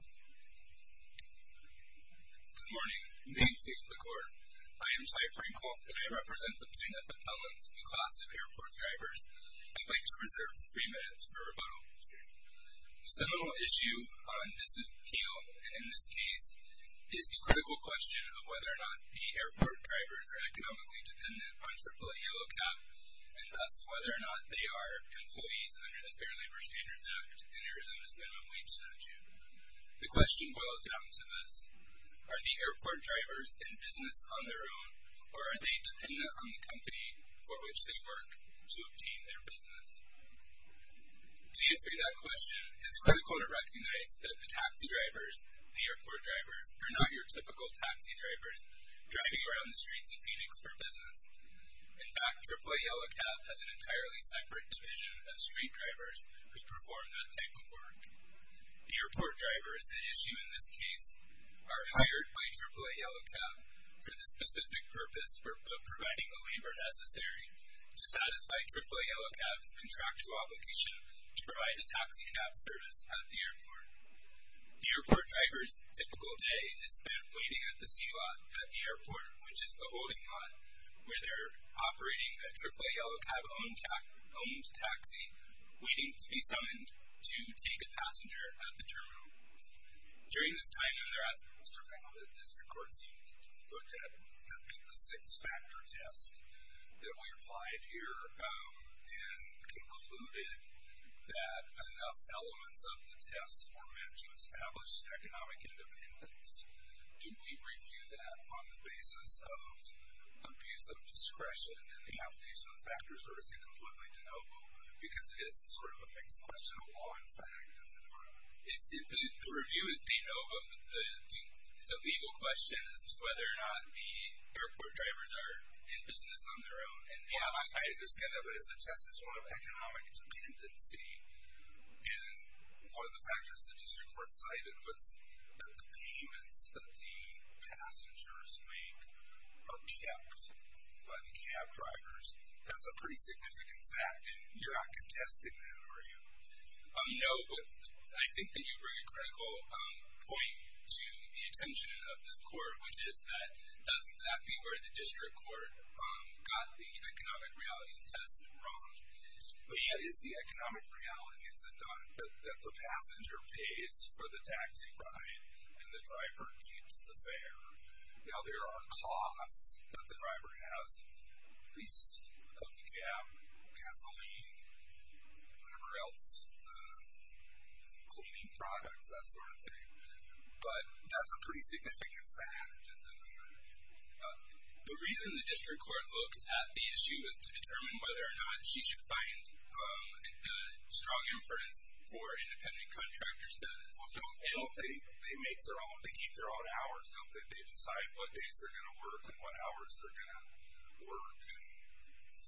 Good morning. My name speaks to the Court. I am Ty Frenkel, and I represent the Plaintiffs' Appellants, a class of airport drivers. I'd like to reserve three minutes for rebuttal. The seminal issue on this appeal, and in this case, is the critical question of whether or not the airport drivers are economically dependent on Circulate Yellow Cap, and thus whether or not they are employees under the Fair Labor Standards Act and Arizona's Minimum Wage Statute. The question boils down to this. Are the airport drivers in business on their own, or are they dependent on the company for which they work to obtain their business? To answer that question, it's critical to recognize that the taxi drivers, the airport drivers, are not your typical taxi drivers driving around the streets of Phoenix for business. In fact, AAA Yellow Cap has an entirely separate division of street drivers who perform that type of work. The airport drivers that issue in this case are hired by AAA Yellow Cap for the specific purpose of providing the labor necessary to satisfy AAA Yellow Cap's contractual obligation to provide a taxi cab service at the airport. The airport driver's typical day is spent waiting at the C-Lot at the airport, which is the holding lot where they're operating a AAA Yellow Cap-owned taxi, waiting to be summoned to take a passenger at the terminal. During this time, Mr. Fang, the District Court seemed to have looked at the six-factor test that we applied here and concluded that enough elements of the test were meant to establish economic independence. Do we review that on the basis of abuse of discretion and the application of the factors, or is it completely de novo because it is sort of a mixed question of law and fact? The review is de novo, but the legal question is whether or not the airport drivers are in business on their own. Well, I understand that, but if the test is one of economic dependency, and one of the factors the District Court cited was that the payments that the passengers make are kept by the cab drivers, that's a pretty significant fact, and you're not contesting that, are you? No, but I think that you bring a critical point to the attention of this Court, which is that that's exactly where the District Court got the economic realities test wrong. The economic reality is that the passenger pays for the taxi ride, and the driver keeps the fare. Now, there are costs that the driver has. He's a cab, gasoline, crelts, cleaning products, that sort of thing, but that's a pretty significant fact, isn't it? The reason the District Court looked at the issue is to determine whether or not she should find a strong inference for independent contractor status. Well, don't they keep their own hours? Don't they decide what days they're going to work and what hours they're going to work, and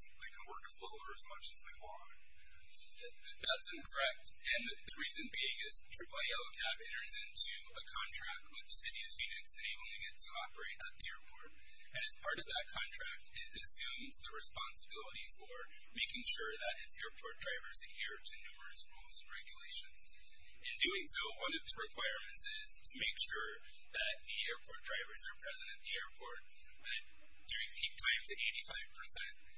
they can work as little or as much as they want? That's incorrect, and the reason being is AAA Yellow Cab enters into a contract with the City of Phoenix enabling it to operate at the airport, and as part of that contract, it assumes the responsibility for making sure that its airport drivers adhere to numerous rules and regulations. In doing so, one of the requirements is to make sure that the airport drivers are present at the airport during peak times at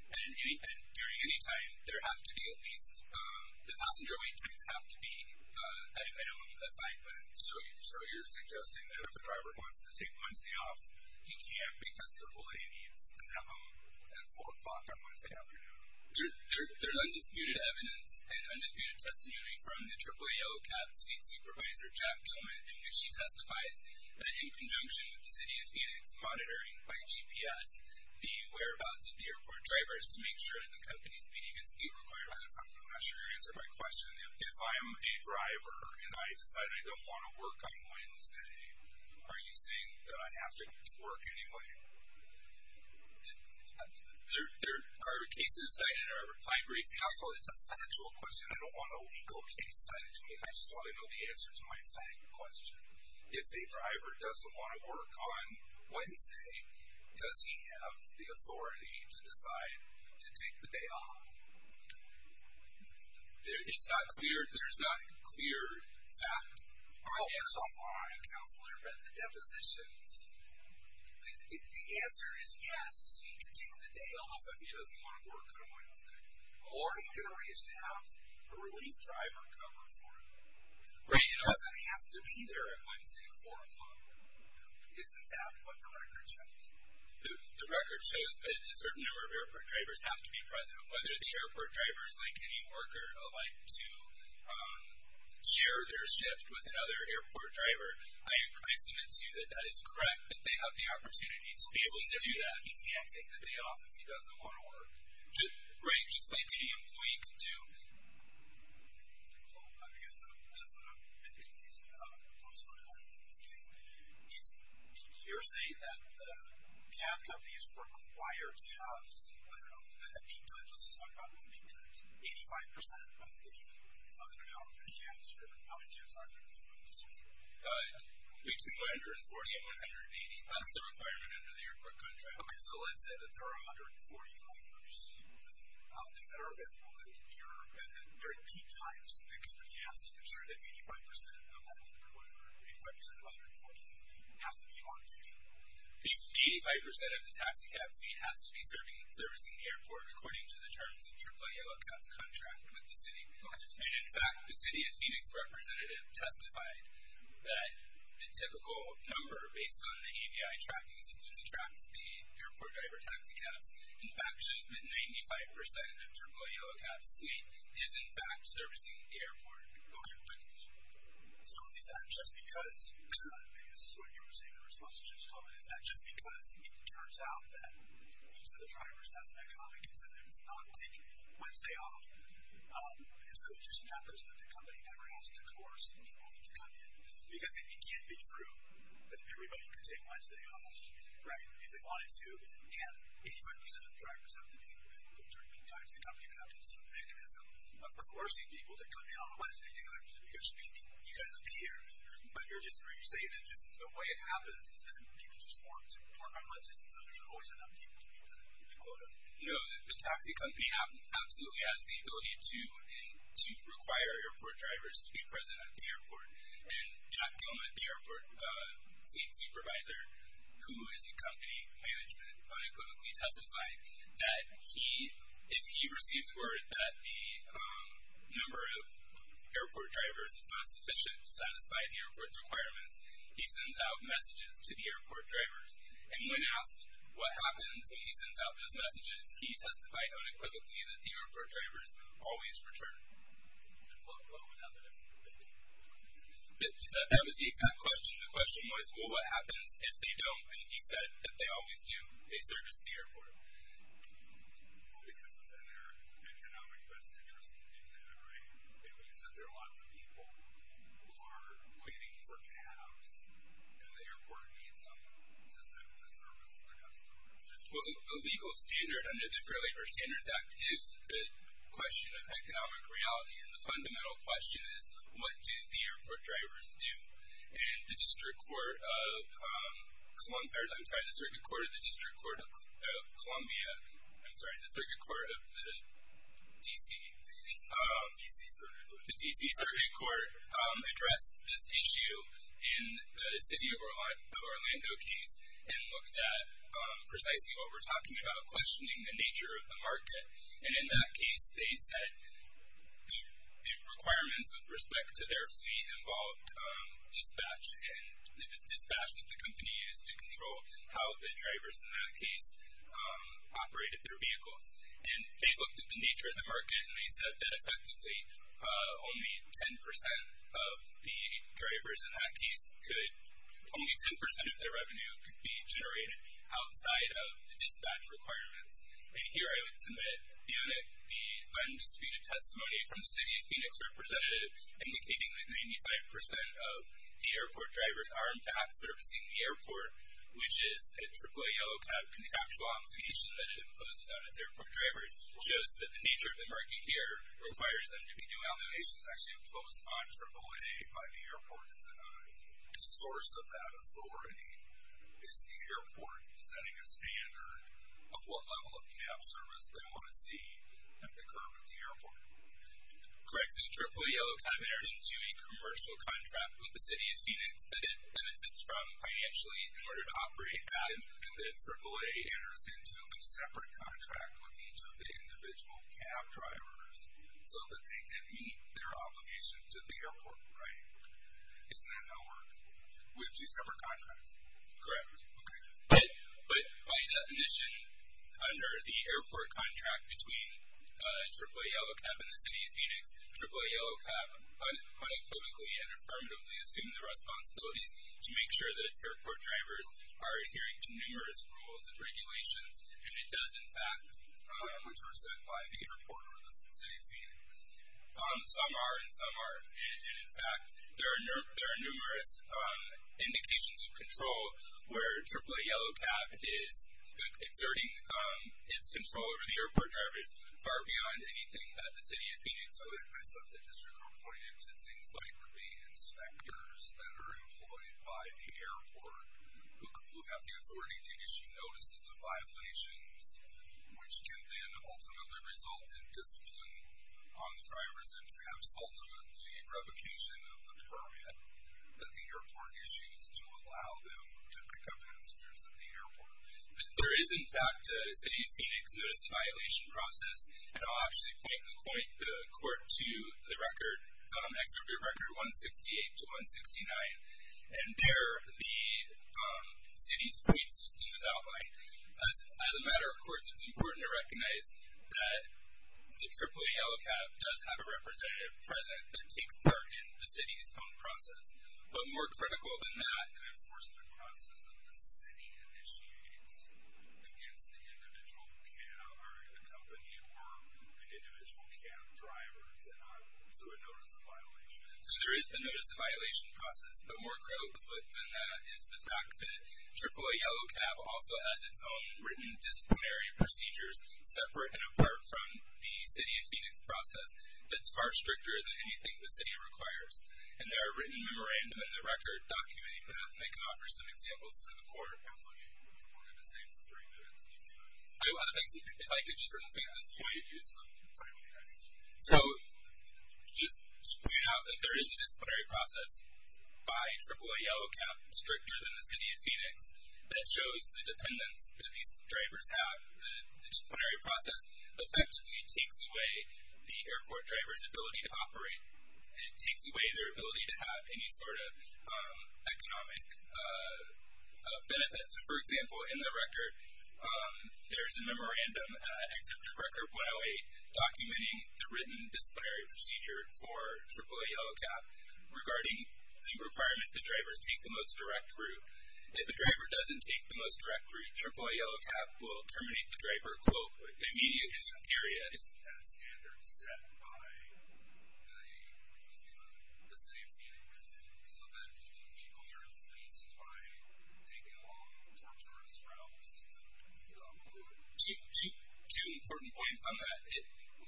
85%, and during any time, the passenger wait times have to be at a minimum of five minutes. So you're suggesting that if a driver wants to take Wednesday off, he can't because AAA meets at 4 o'clock on Wednesday afternoon? There's undisputed evidence and undisputed testimony from the AAA Yellow Cab's lead supervisor, Jack Gilman, and she testifies that in conjunction with the City of Phoenix monitoring by GPS, the whereabouts of the airport drivers to make sure that the companies meet against the requirements. I'm not sure you're answering my question. If I'm a driver and I decide I don't want to work on Wednesday, are you saying that I have to work anyway? There are cases cited in our reply brief. Counsel, it's a factual question. I don't want a legal case cited to me. I just want to know the answer to my second question. If a driver doesn't want to work on Wednesday, does he have the authority to decide to take the day off? It's not clear. There's not clear fact. All right. Counselor, I read the depositions. The answer is yes, he can take the day off if he doesn't want to work on Wednesday, or he can arrange to have a relief driver come on Friday. Right. It doesn't have to be there on Wednesday at 4 o'clock. Isn't that what the record shows? The record shows that a certain number of airport drivers have to be present. Whether the airport drivers link any worker alike to share their shift with another airport driver, I estimate, too, that that is correct, that they have the opportunity to be able to do that. But he can't take the day off if he doesn't want to work. Right. Just like any employee can do. I guess that's what I'm confused about. You're saying that the cab companies require cabs. I don't know if that actually does. Let's just talk about what it means. 85% of the cab companies are going to have their cabs, but the other cabs aren't going to be able to do so. Between 140 and 180. That's the requirement under the airport contract. Okay. So let's say that there are 140 drivers that are available, and during peak times the company has to ensure that 85% of that number, or 85% of 140, has to be on duty. 85% of the taxi cab fee has to be servicing the airport, according to the terms of the Triple Yellow Cup contract with the city. And, in fact, the city of Phoenix representative testified that the typical number, based on the AVI tracking systems, attracts the airport driver taxi cabs. In fact, just that 95% of Triple Yellow Cup's fee is, in fact, servicing the airport. Okay. So is that just because, I mean, this is what you were saying in response to what I just told you, is that just because it turns out that each of the drivers has an economic incentive to not take Wednesday off, and so it just happens that the company never has to coerce anybody to come in? Because it can't be true that everybody can take Wednesday off, right, if they wanted to, and 85% of the drivers have to be able to, during peak times, the company would have to have some mechanism of coercing people to come in on Wednesday, because you guys have to be here. But you're just saying that just the way it happens is that people just want to park on Wednesdays, and so there's always enough people to be there, if you can call it that. No, the taxi company absolutely has the ability to require airport drivers to be present at the airport, and Jack Gilman, the airport fleet supervisor, who is in company management, unequivocally testified that if he receives word that the number of airport drivers is not sufficient to satisfy the airport's requirements, he sends out messages to the airport drivers, and when asked what happens when he sends out those messages, he testified unequivocally that the airport drivers always return. What would happen if they didn't? That was the exact question. The question was, well, what happens if they don't? And he said that they always do a service to the airport. Well, because it's in their economic best interest to do that, right? It means that there are lots of people who are waiting for cabs, and the airport needs them to service the customers. Well, the legal standard under the Fair Labor Standards Act is the question of economic reality, and the fundamental question is, what do the airport drivers do? And the District Court of Columbia – I'm sorry, the Circuit Court of the District Court of Columbia – I'm sorry, the Circuit Court of the D.C. – D.C. Circuit Court. The D.C. Circuit Court addressed this issue in the city of Orlando case and looked at precisely what we're talking about, questioning the nature of the market. And in that case, they said the requirements with respect to their fleet involved dispatch, and it was dispatch that the company used to control how the drivers in that case operated their vehicles. And they looked at the nature of the market, and they said that effectively only 10 percent of the drivers in that case could – could be generated outside of the dispatch requirements. And here I would submit the undisputed testimony from the city of Phoenix representative indicating that 95 percent of the airport drivers are in fact servicing the airport, which is a AAA yellow cab contractual obligation that it imposes on its airport drivers. It shows that the nature of the market here requires them to be doing that. The obligation is actually imposed on AAA by the airport, isn't it? The source of that authority is the airport setting a standard of what level of cab service they want to see at the curb of the airport. Correct. So AAA yellow cab entered into a commercial contract with the city of Phoenix that it benefits from financially in order to operate at, and then AAA enters into a separate contract with each of the individual cab drivers so that they can meet their obligation to the airport, right? Isn't that how it works? With two separate contracts? Correct. Okay. But by definition, under the airport contract between AAA yellow cab and the city of Phoenix, AAA yellow cab unequivocally and affirmatively assumed the responsibilities to make sure that its airport drivers are adhering to numerous rules and regulations, and it does, in fact, which are set by the airport or the city of Phoenix. Some are and some aren't. And, in fact, there are numerous indications of control where AAA yellow cab is exerting its control over the airport drivers far beyond anything that the city of Phoenix would. I thought the district reported to things like the inspectors that are employed by the airport who have the authority to issue notices of violations, which can then ultimately result in discipline on the drivers and perhaps ultimately revocation of the permit that the airport issues to allow them to pick up passengers at the airport. There is, in fact, a city of Phoenix notice of violation process, and I'll actually point the court to the record, Exhibit Record 168 to 169, and there the city's point system is outlined. As a matter of course, it's important to recognize that the AAA yellow cab does have a representative present that takes part in the city's own process. But more critical than that, an enforcement process that the city initiates against the individual cab or the company or an individual cab drivers So there is the notice of violation process. But more critical than that is the fact that AAA yellow cab also has its own written disciplinary procedures separate and apart from the city of Phoenix process that's far stricter than anything the city requires. And there are written memorandum in the record documenting that, and I can offer some examples for the court. We're going to save three minutes. If I could just repeat this point. So just point out that there is a disciplinary process by AAA yellow cab stricter than the city of Phoenix that shows the dependence that these drivers have. The disciplinary process effectively takes away the airport driver's ability to operate. It takes away their ability to have any sort of economic benefits. For example, in the record, there's a memorandum at Executive Record 108 documenting the written disciplinary procedure for AAA yellow cab regarding the requirement that drivers take the most direct route. If a driver doesn't take the most direct route, AAA yellow cab will terminate the driver, quote, immediately. Period. Isn't that standard set by the city of Phoenix so that people are influenced by taking long, torturous routes to get on board? Two important points on that.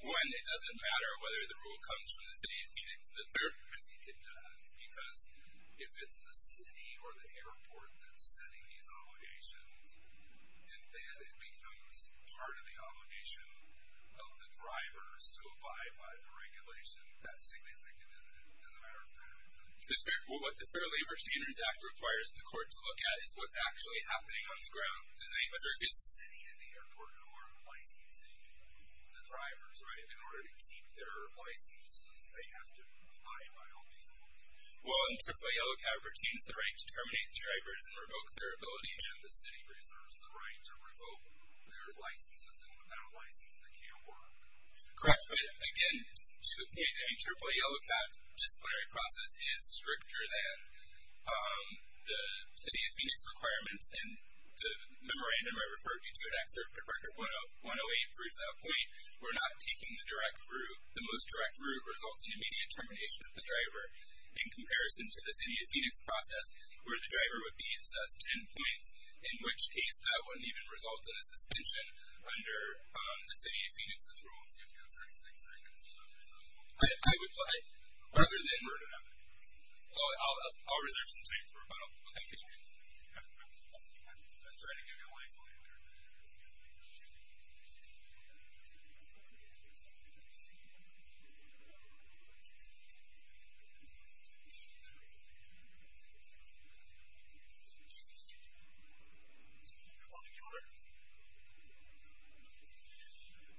One, it doesn't matter whether the rule comes from the city of Phoenix. The third, I think it does, because if it's the city or the airport that's setting these obligations, then it becomes part of the obligation of the drivers to abide by the regulation. That's significant as a matter of fairness. What the Fair Labor Standards Act requires the court to look at is what's actually happening on the ground. Is the city and the airport norm licensing the drivers, right? In order to keep their licenses, they have to abide by all these rules. Well, in AAA yellow cab routines, the right to terminate the drivers and revoke their ability, and the city reserves the right to revoke their licenses. And without a license, that can't work. Correct. Again, to the point, any AAA yellow cab disciplinary process is stricter than the city of Phoenix requirements. And the memorandum I referred you to, in Act Certificate Record 108, proves that point. We're not taking the direct route. The most direct route results in immediate termination of the driver. In comparison to the city of Phoenix process, where the driver would be assessed 10 points, in which case that wouldn't even result in a suspension under the city of Phoenix's rules. You have 36 seconds left. I would like, other than word of mouth. I'll reserve some time for a moment. Okay. Thank you. I'll try to give you a microphone here.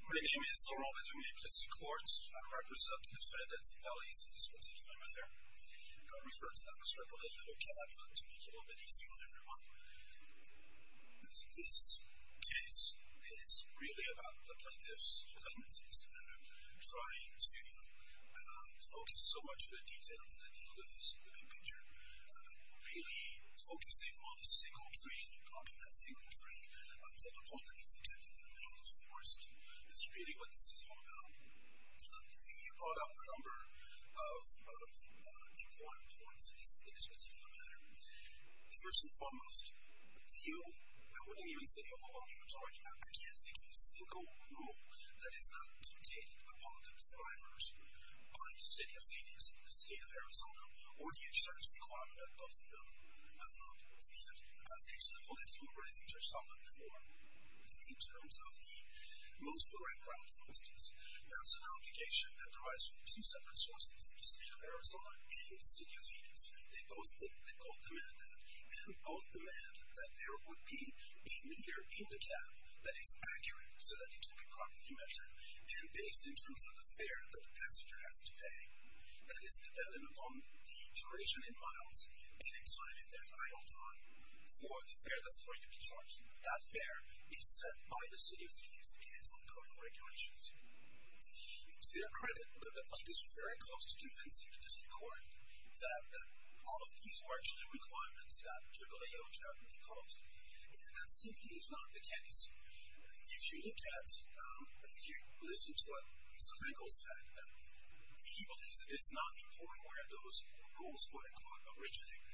My name is Laurent Benjamin Christy-Quartz. I represent the defendants' alleys in this particular matter. I referred to them as AAA yellow cab to make it a little bit easier on everyone. I think this case is really about the plaintiff's tendencies and trying to focus so much on the details and the details of the big picture. Really focusing on a single train, blocking that single train, to the point that he's looking at it in the middle of the forest. That's really what this is all about. You brought up a number of important points in this particular matter. First and foremost, the yellow cab, I wouldn't even say of the long majority of cabs, I can't think of a single rule that is not dictated upon the drivers by the city of Phoenix, the state of Arizona, or the insurance requirement of the yellow cab. I don't know if it was the end. Actually, the whole next number, as you touched on before, in terms of the most correct route, for instance, that's an obligation that derives from two separate sources, the state of Arizona and the city of Phoenix. They both demand that. And both demand that there would be a meter in the cab that is accurate so that it can be properly measured and based in terms of the fare that the passenger has to pay that is dependent upon the duration in miles and in time if there's idle time That fare is set by the city of Phoenix in its ongoing regulations. To their credit, the plaintiffs were very close to convincing the district court that all of these were actually requirements that the yellow cab would impose. And that simply is not the case. If you look at... If you listen to what Mr. Frankel said, he believes that it's not important where those rules, quote-unquote, originate.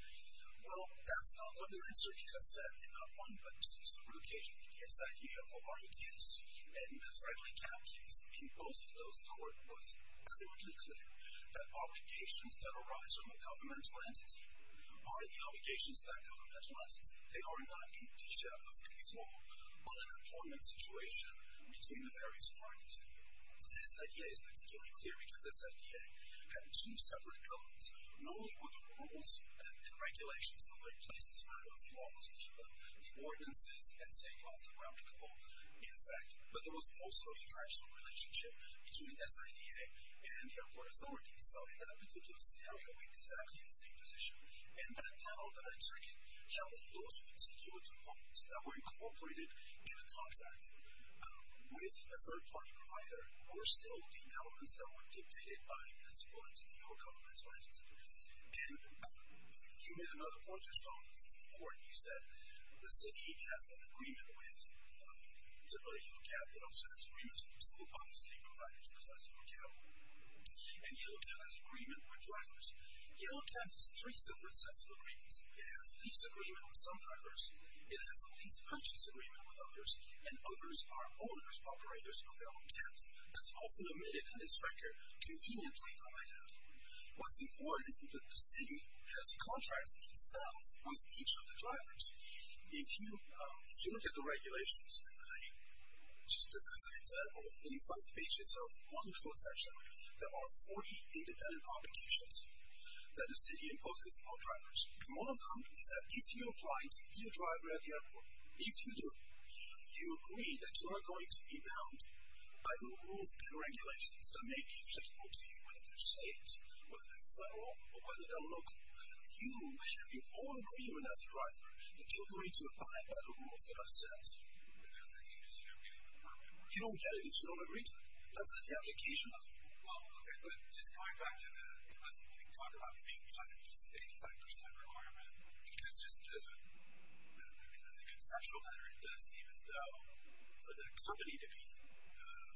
Well, that's not what their answer is. He has said in not one but two separate occasions that the SIDA of Hawaii D.S. and the friendly cab case in both of those court was crudely clear that obligations that arise from a governmental entity are the obligations of that governmental entity. They are not an issue of control but an employment situation between the various parties. The SIDA is particularly clear because the SIDA had two separate elements. Not only were the rules and regulations of the case a matter of laws, the ordinances and safeguards were applicable, in effect, but there was also an international relationship between SIDA and the airport authorities. So in that particular scenario, we'd be exactly in the same position. And that panel that I took in counted those particular components that were incorporated in a contract with a third-party provider were still the elements that were dictated by a municipal entity or a governmental entity. And you made another point, Your Honor, that's important. You said the city has an agreement with, particularly, Yellow Cab. It also has agreements with two of those three providers, precisely, with Yellow Cab. And Yellow Cab has agreement with drivers. Yellow Cab has three separate sets of agreements. It has a peace agreement with some drivers. It has a peace purchase agreement with others. And others are owners, operators of their own cabs. That's all for the minute in this record. Confusion can come right out. What's important is that the city has contracts itself with each of the drivers. If you look at the regulations, just as an example, in five pages of one code section, there are 40 independent obligations that the city imposes on drivers. And one of them is that if you apply to be a driver at the airport, if you do, you agree that you are going to be bound that may be applicable to you, whether they're state, whether they're federal, or whether they're local. You have your own agreement as a driver that you're going to abide by the rules that are set. But that's the thing, is you don't get it. You don't get it if you don't agree to it. That's the application of the rule. Okay, but just going back to the, unless you can talk about the peak time, the 85% requirement, because just as a conceptual matter, it does seem as though for the company to be to be confident that it can meet that, it does seem to need to have people all over the drivers in the sense that we need to make sure that at least 85% of these people are on the ticket during this time. So that's one thing. And then I guess if they're then compelled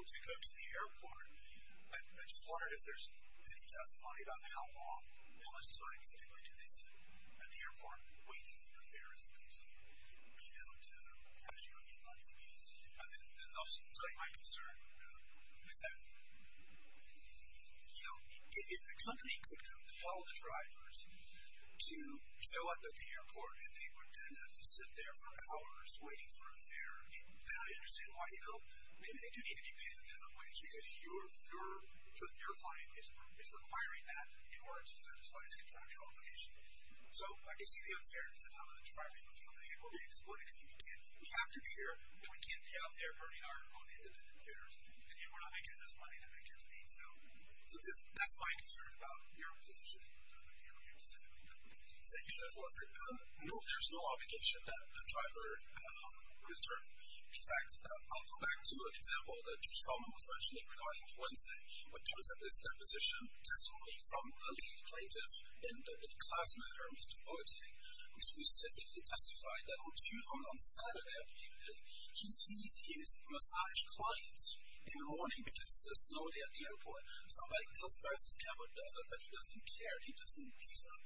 to go to the airport, I just wondered if there's any testimony about how long, how much time is it going to take at the airport waiting for the fare as opposed to being able to cash your money away. And then I'll say my concern is that you know, if the company could compel the drivers to show up at the airport and they would then have to sit there for hours waiting for a fare, then I understand why, you know, maybe they do need to be paid a minimum wage because your client is requiring that in order to satisfy his contractual obligation. So I can see the unfairness of how the drivers are looking on the airport. They're just going to communicate, we have to be here, but we can't be out there burning our own independent fares. And we're not making this money to make it to them. So that's my concern about your position. Thank you, Judge Warford. No, there's no obligation that the driver return. In fact, I'll go back to an example that Judge Solomon was mentioning regarding Wednesday which was at this deposition testimony from a lead plaintiff in the class matter, Mr. Boateng, who specifically testified that on Saturday, I believe it is, he sees his massage clients in the morning because it's a slow day at the airport. Somebody else wears a scarf or doesn't, but he doesn't care. He doesn't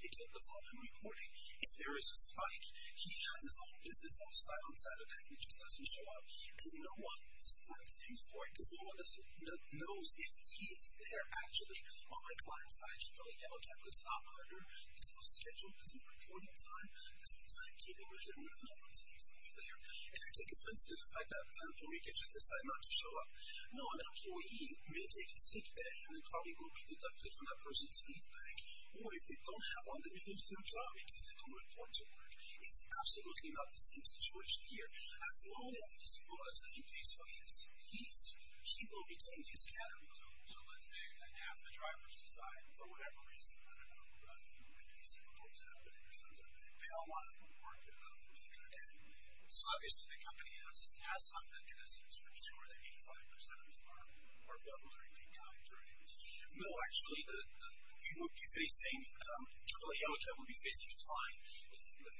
pick up the phone and report it if there is a spike. He has his own business on the side on Saturday, which is doesn't show up. And no one is fencing for it because no one knows if he is there actually. On my client's side, you know, he never kept a top order. His whole schedule is in the morning time. It's the time keeping, which I don't know if it's usually there. And I take offense to the fact that an employee could just decide not to show up. No, an employee may take a sick day and probably will be deducted from that person's leave bank. Or if they don't have all the minutes to do a job because they don't report to work. It's absolutely not the same situation here. As long as Mr. Boateng pays for his fees, he will retain his salary. So let's say that half the drivers decide for whatever reason, I don't know, that the Super Bowl is happening or something. They all want to report to work. And obviously the company has some mechanism to ensure that 85% of our drivers are in peak time during this. No, actually, we will be facing, AAA Yellowjack will be facing a fine.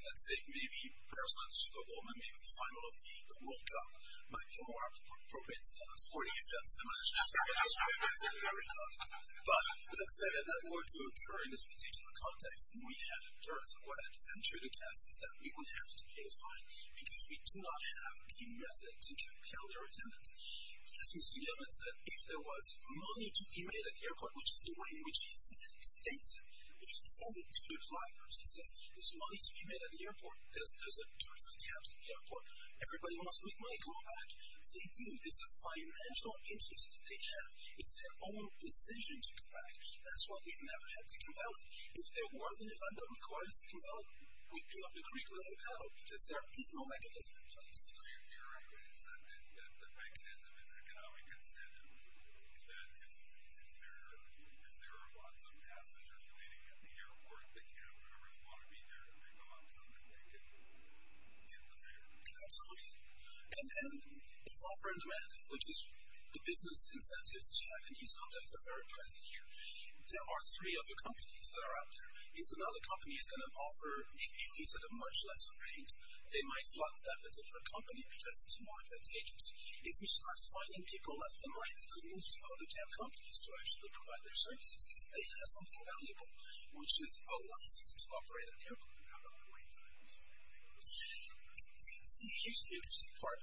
Let's say maybe, perhaps not the Super Bowl, but maybe the final of the World Cup. Might be more appropriate sporting events, I imagine. But, let's say that were to occur in this particular context, we had a dearth of adventure to cast that we would have to pay a fine. Because we do not have the method to compel their attendance. As Mr. Yeoman said, if there was money to be made at the airport, which is the way in which he states it, he says it to the drivers. He says, there's money to be made at the airport. There's a dearth of cabs at the airport. Everybody wants to make money. Come on back. They do. It's a financial interest that they have. It's their own decision to come back. That's why we never had to compel it. If there wasn't a fund that required us to compel it, we'd be up the creek without a paddle, because there is no mechanism in place. So your argument is that the mechanism is economic incentive, that if there are lots of passengers waiting at the airport, the cab drivers want to be there, they go up to them and they get the fare. Absolutely. It's offer and demand, which is the business incentives that you have in these contexts are very present here. There are three other companies that are out there. If another company is going to offer a lease at a much lesser rate, they might fund that particular company because it's more advantageous. If you start finding people left and right who move to other cab companies to actually provide their services, because they have something valuable, which is a license to operate at the airport. Do you have a point there? Here's the interesting part.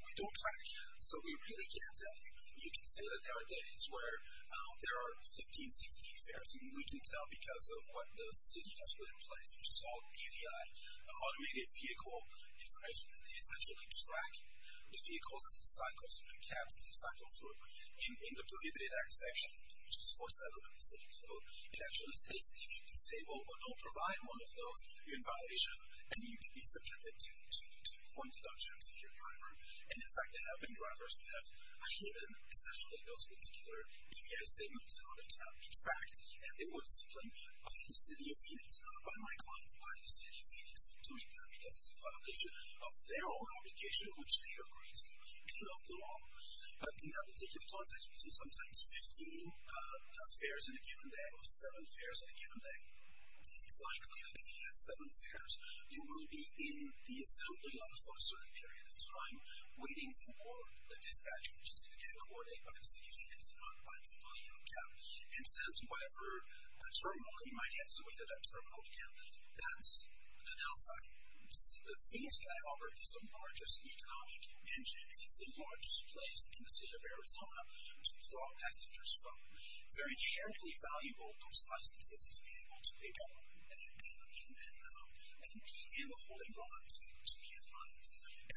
We don't track, so we really can't tell you. You can say that there are days where there are 15, 16 fares, and we can tell because of what the city has put in place, which is all UVI, Automated Vehicle Information. They essentially track the vehicles as they cycle through, the cabs as they cycle through, in the Prohibited Act section, which is 470 of the city code. It actually states that if you are disabled or don't provide one of those, you're in violation, and you can be subjected to one deduction to your driver. And in fact, there have been drivers who have hidden essentially those particular UVI signals on a cab. In fact, it was a claim by the city of Phoenix, not by my clients, by the city of Phoenix for doing that because it's a violation of their own obligation, which they agreed to, and of the law. In that particular context, we see sometimes 15 fares in a given day. It's likely that if you have 7 fares, you will be in the assembly for a certain period of time, waiting for the dispatch agency to get accorded by the city of Phoenix not by its own cab, and sent to whatever terminal. You might have to wait at that terminal again. That's an outside. See, the Phoenix Sky Harbor is the largest economic engine. It's the largest place in the city of Arizona to draw passengers from. They're inherently valuable, those licenses, to be able to pay back on any payment you may have, and be able to hold a bond to be able to pay a fine.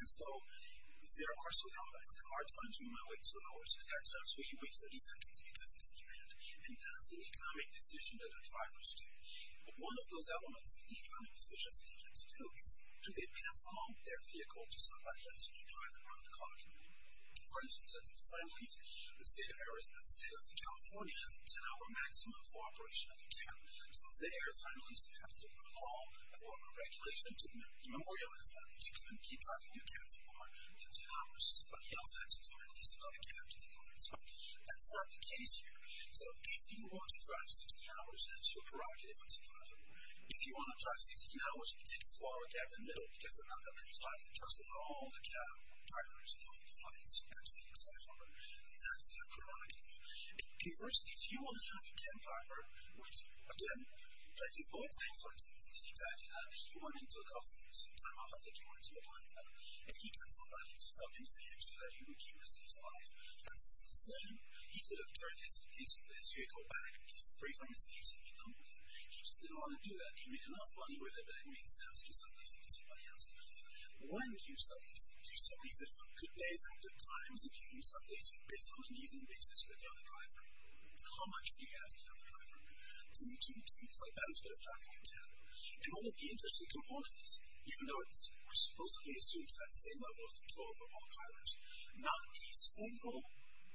There are, of course, some hard times. You might wait 2 hours. There are times where you wait 30 seconds because it's a demand, and that's an economic decision that the drivers do. One of those elements of the economic decisions that you have to do is, do they pass along their vehicle to somebody else? Do you drive around the clock? For instance, as a final reason, the state of Arizona and the state of California has a 10-hour maximum for operation of your cab. So they are finally supposed to pass along a form of regulation to memorialize that. If you couldn't keep driving your cab for more than 10 hours, somebody else had to come in and use another cab to take over your spot. That's not the case here. So if you want to drive 60 hours, that's your prerogative as a driver. If you want to drive 60 hours and take a 4-hour cab in the middle, because they're not that many drivers, and trust me, all the cab drivers and all the flights at Phoenix by Harbor, that's your prerogative. Conversely, if you only have a cab driver, which, again, plenty of boy time for him, since he didn't drive, he went and took off some time off, I think he went and took off some time off, and he got somebody to sell him for him so that he would keep the rest of his life. That's his decision. He could have turned his vehicle back. He's free from his needs if he don't want to. He just didn't want to do that. He made enough money with it that it made sense to sell this to somebody else. When do you sell this? Do you sell these at good days and good times? If you use some of these bits on an even basis with the other driver? How much do you ask the other driver to do two things like that instead of driving a cab? And one of the interesting components is, even though it's supposedly assumed to have the same level of control for all drivers, not a single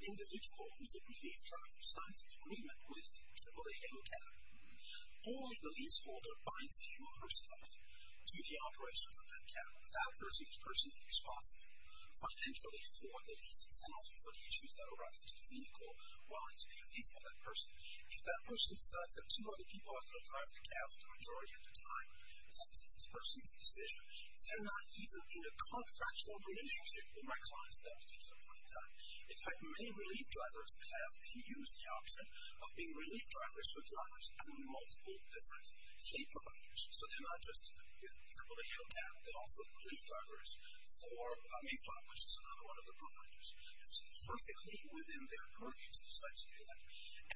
individual who's a relief driver signs an agreement with AAA and a cab. Only the leaseholder binds him or herself to the operations of that cab. That person is personally responsible financially for the lease itself and for the issues that arise with the vehicle while it's being leased by that person. If that person decides that two other people are going to drive the cab the majority of the time, that's this person's decision. They're not even in a contractual relationship with my clients at that particular point in time. In fact, many relief drivers have been used the option of being relief drivers for drivers and multiple different pay providers. So they're not just with AAA and a cab, they're also relief drivers for Mayflower, which is another one of the providers. It's perfectly within their purview to decide to do that.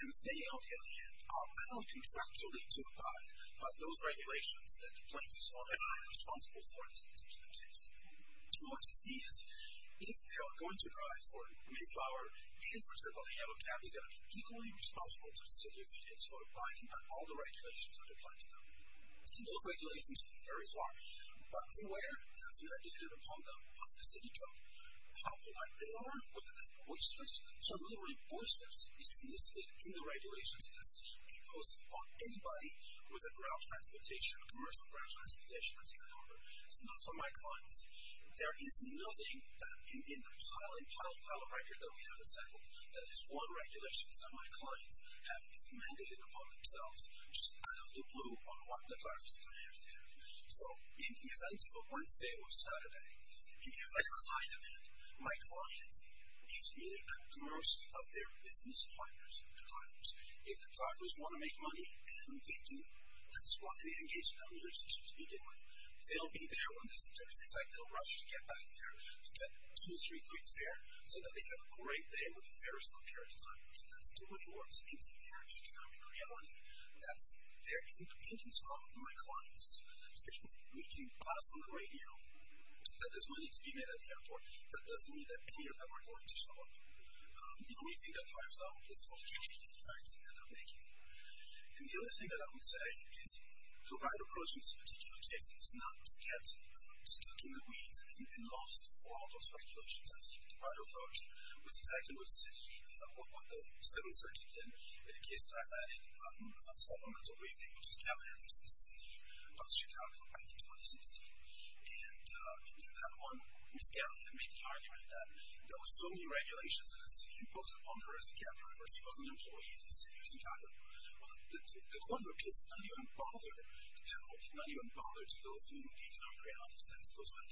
And they, on the other hand, are bound contractually to abide by those regulations that the plaintiffs are responsible for in this particular case. What you want to see is if they are going to drive for Mayflower and for AAA and a cab they've got to be equally responsible to the city of Phoenix for abiding by all the those regulations, very far. But where has it been mandated upon them by the city code? How polite they are, whether they're boisterous. So literally, boisterous is listed in the regulations as it imposes upon anybody who is a ground transportation, a commercial ground transportation let's take a number. It's not for my clients. There is nothing that in the pile and pile and pile of record that we have assembled that is one regulation that my clients have mandated upon themselves. Just out of the blue on what the drivers can have there. So, in the event of a Wednesday or Saturday in the event of a high demand my client is really at the mercy of their business partners and their drivers. If the drivers want to make money, and they do that's why they engage in a relationship to begin with. They'll be there when there's a turn. In fact, they'll rush to get back there to get two or three quick fare so that they have a great day where the fare is not carried to time. And that's too much more to consider an economic reality that's their inconvenience from my client's statement we can pass on the radio that there's money to be made at the airport that doesn't mean that any of them are going to show up. The only thing that drives them is the opportunity to try to end up making it. And the other thing that I would say is the right approach in this particular case is not to get stuck in the weeds and lost for all those regulations. I think the right approach was exactly what what the 7th Circuit did in a case like that in a supplemental briefing which was Gallaudet v. City of Chicago back in 2016. And in that one, Ms. Gallaudet made the argument that there were so many regulations in the city imposed upon her as a cab driver if she was an employee in the city of Chicago. Well, the court of appeals did not even bother to go through the economic reality set. It was like,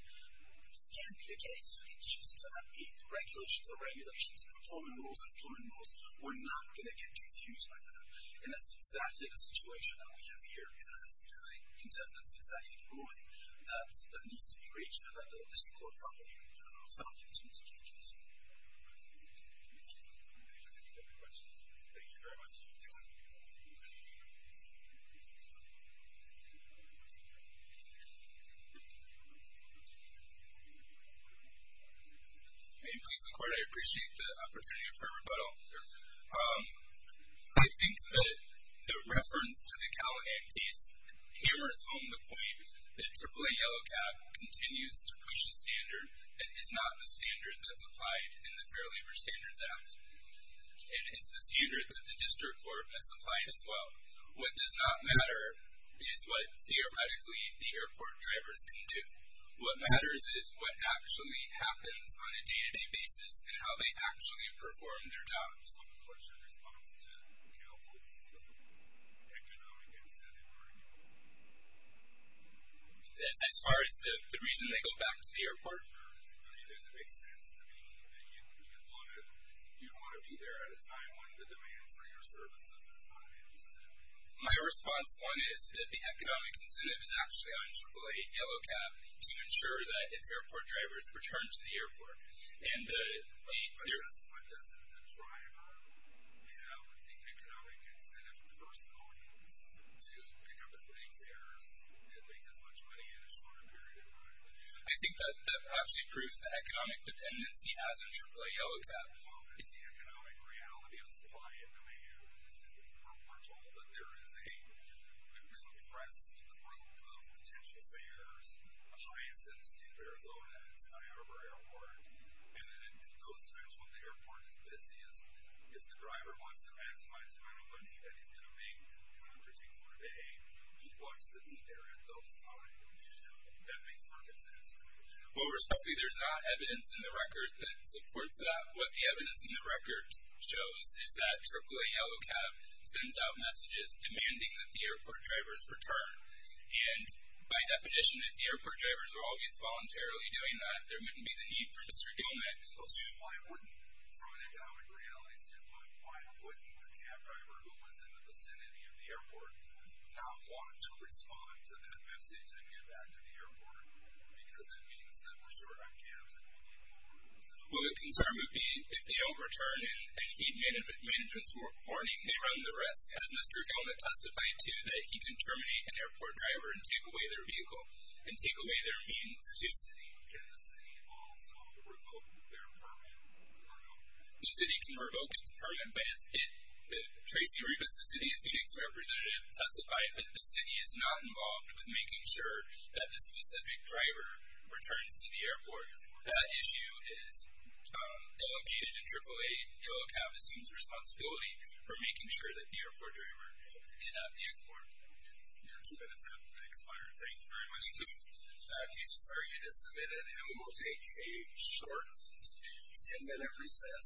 this can't be the case. It should simply not be regulations are regulations. Employment rules are employment rules. We're not going to get confused by that. And that's exactly the situation that we have here in our city. That's exactly the ruling that needs to be reached. And that the district court found it to be the case. Any other questions? Thank you very much. Any other questions? May it please the court, I appreciate the opportunity for a rebuttal. I think that the reference to the Callahan case hammers home the point that AAA Yellow Cab continues to push a standard that is not the standard that's applied in the Fair Labor Standards Act. And it's the standard that the district court has applied as well. What does not matter is what, theoretically, the airport drivers can do. What matters is what actually happens on a day-to-day basis and how they actually perform their jobs. What's your response to counsel's economic incentive argument? As far as the reason they go back to the airport? Does it make sense to me that you want to be there at a time when the demand for your services is high? My response, one, is that the economic incentive is actually on AAA Yellow Cab to ensure that its airport drivers return to the airport. And the... But doesn't the driver have the economic incentive from the person owning it to pick up his pay fares and make as much money in a shorter period of time? I think that that actually proves the economic dependence he has on AAA Yellow Cab. Well, there's the economic reality of supply and demand. We're told that there is a compressed group of potential fares, a high incentive in Arizona at Sky Harbor Airport. And in those times when the airport is busiest, if the driver wants to maximize the amount of money that he's going to make on a particular day, he wants to be there at those times. That makes perfect sense to me. Well, respectfully, there's not evidence in the record that supports that. What the evidence in the record shows is that AAA Yellow Cab sends out messages demanding that the airport drivers return. And by definition, if the airport drivers were always voluntarily doing that, there wouldn't be the need for this redeemment. Why wouldn't, from an economic reality standpoint, why wouldn't the cab driver who was in the vicinity of the airport not want to respond to that message and get back to the airport? Because it means that we're short on cabs anymore. Well, the concern would be if they overturn and heat management were warning, they run the risk. As Mr. Gellman testified to, that he can terminate an airport driver and take away their vehicle, and take away their means to... Can the city also revoke their permit? The city can revoke its permit, but it's Tracey Rivas, the City of Phoenix representative, testified that the city is not involved with making sure that the specific driver returns to the airport. That issue is delegated to AAA Yellow Cab as soon as responsibility for making sure that the airport driver is at the airport. Thank you. Thank you very much. This target is submitted and we will take a short 10 minute recess.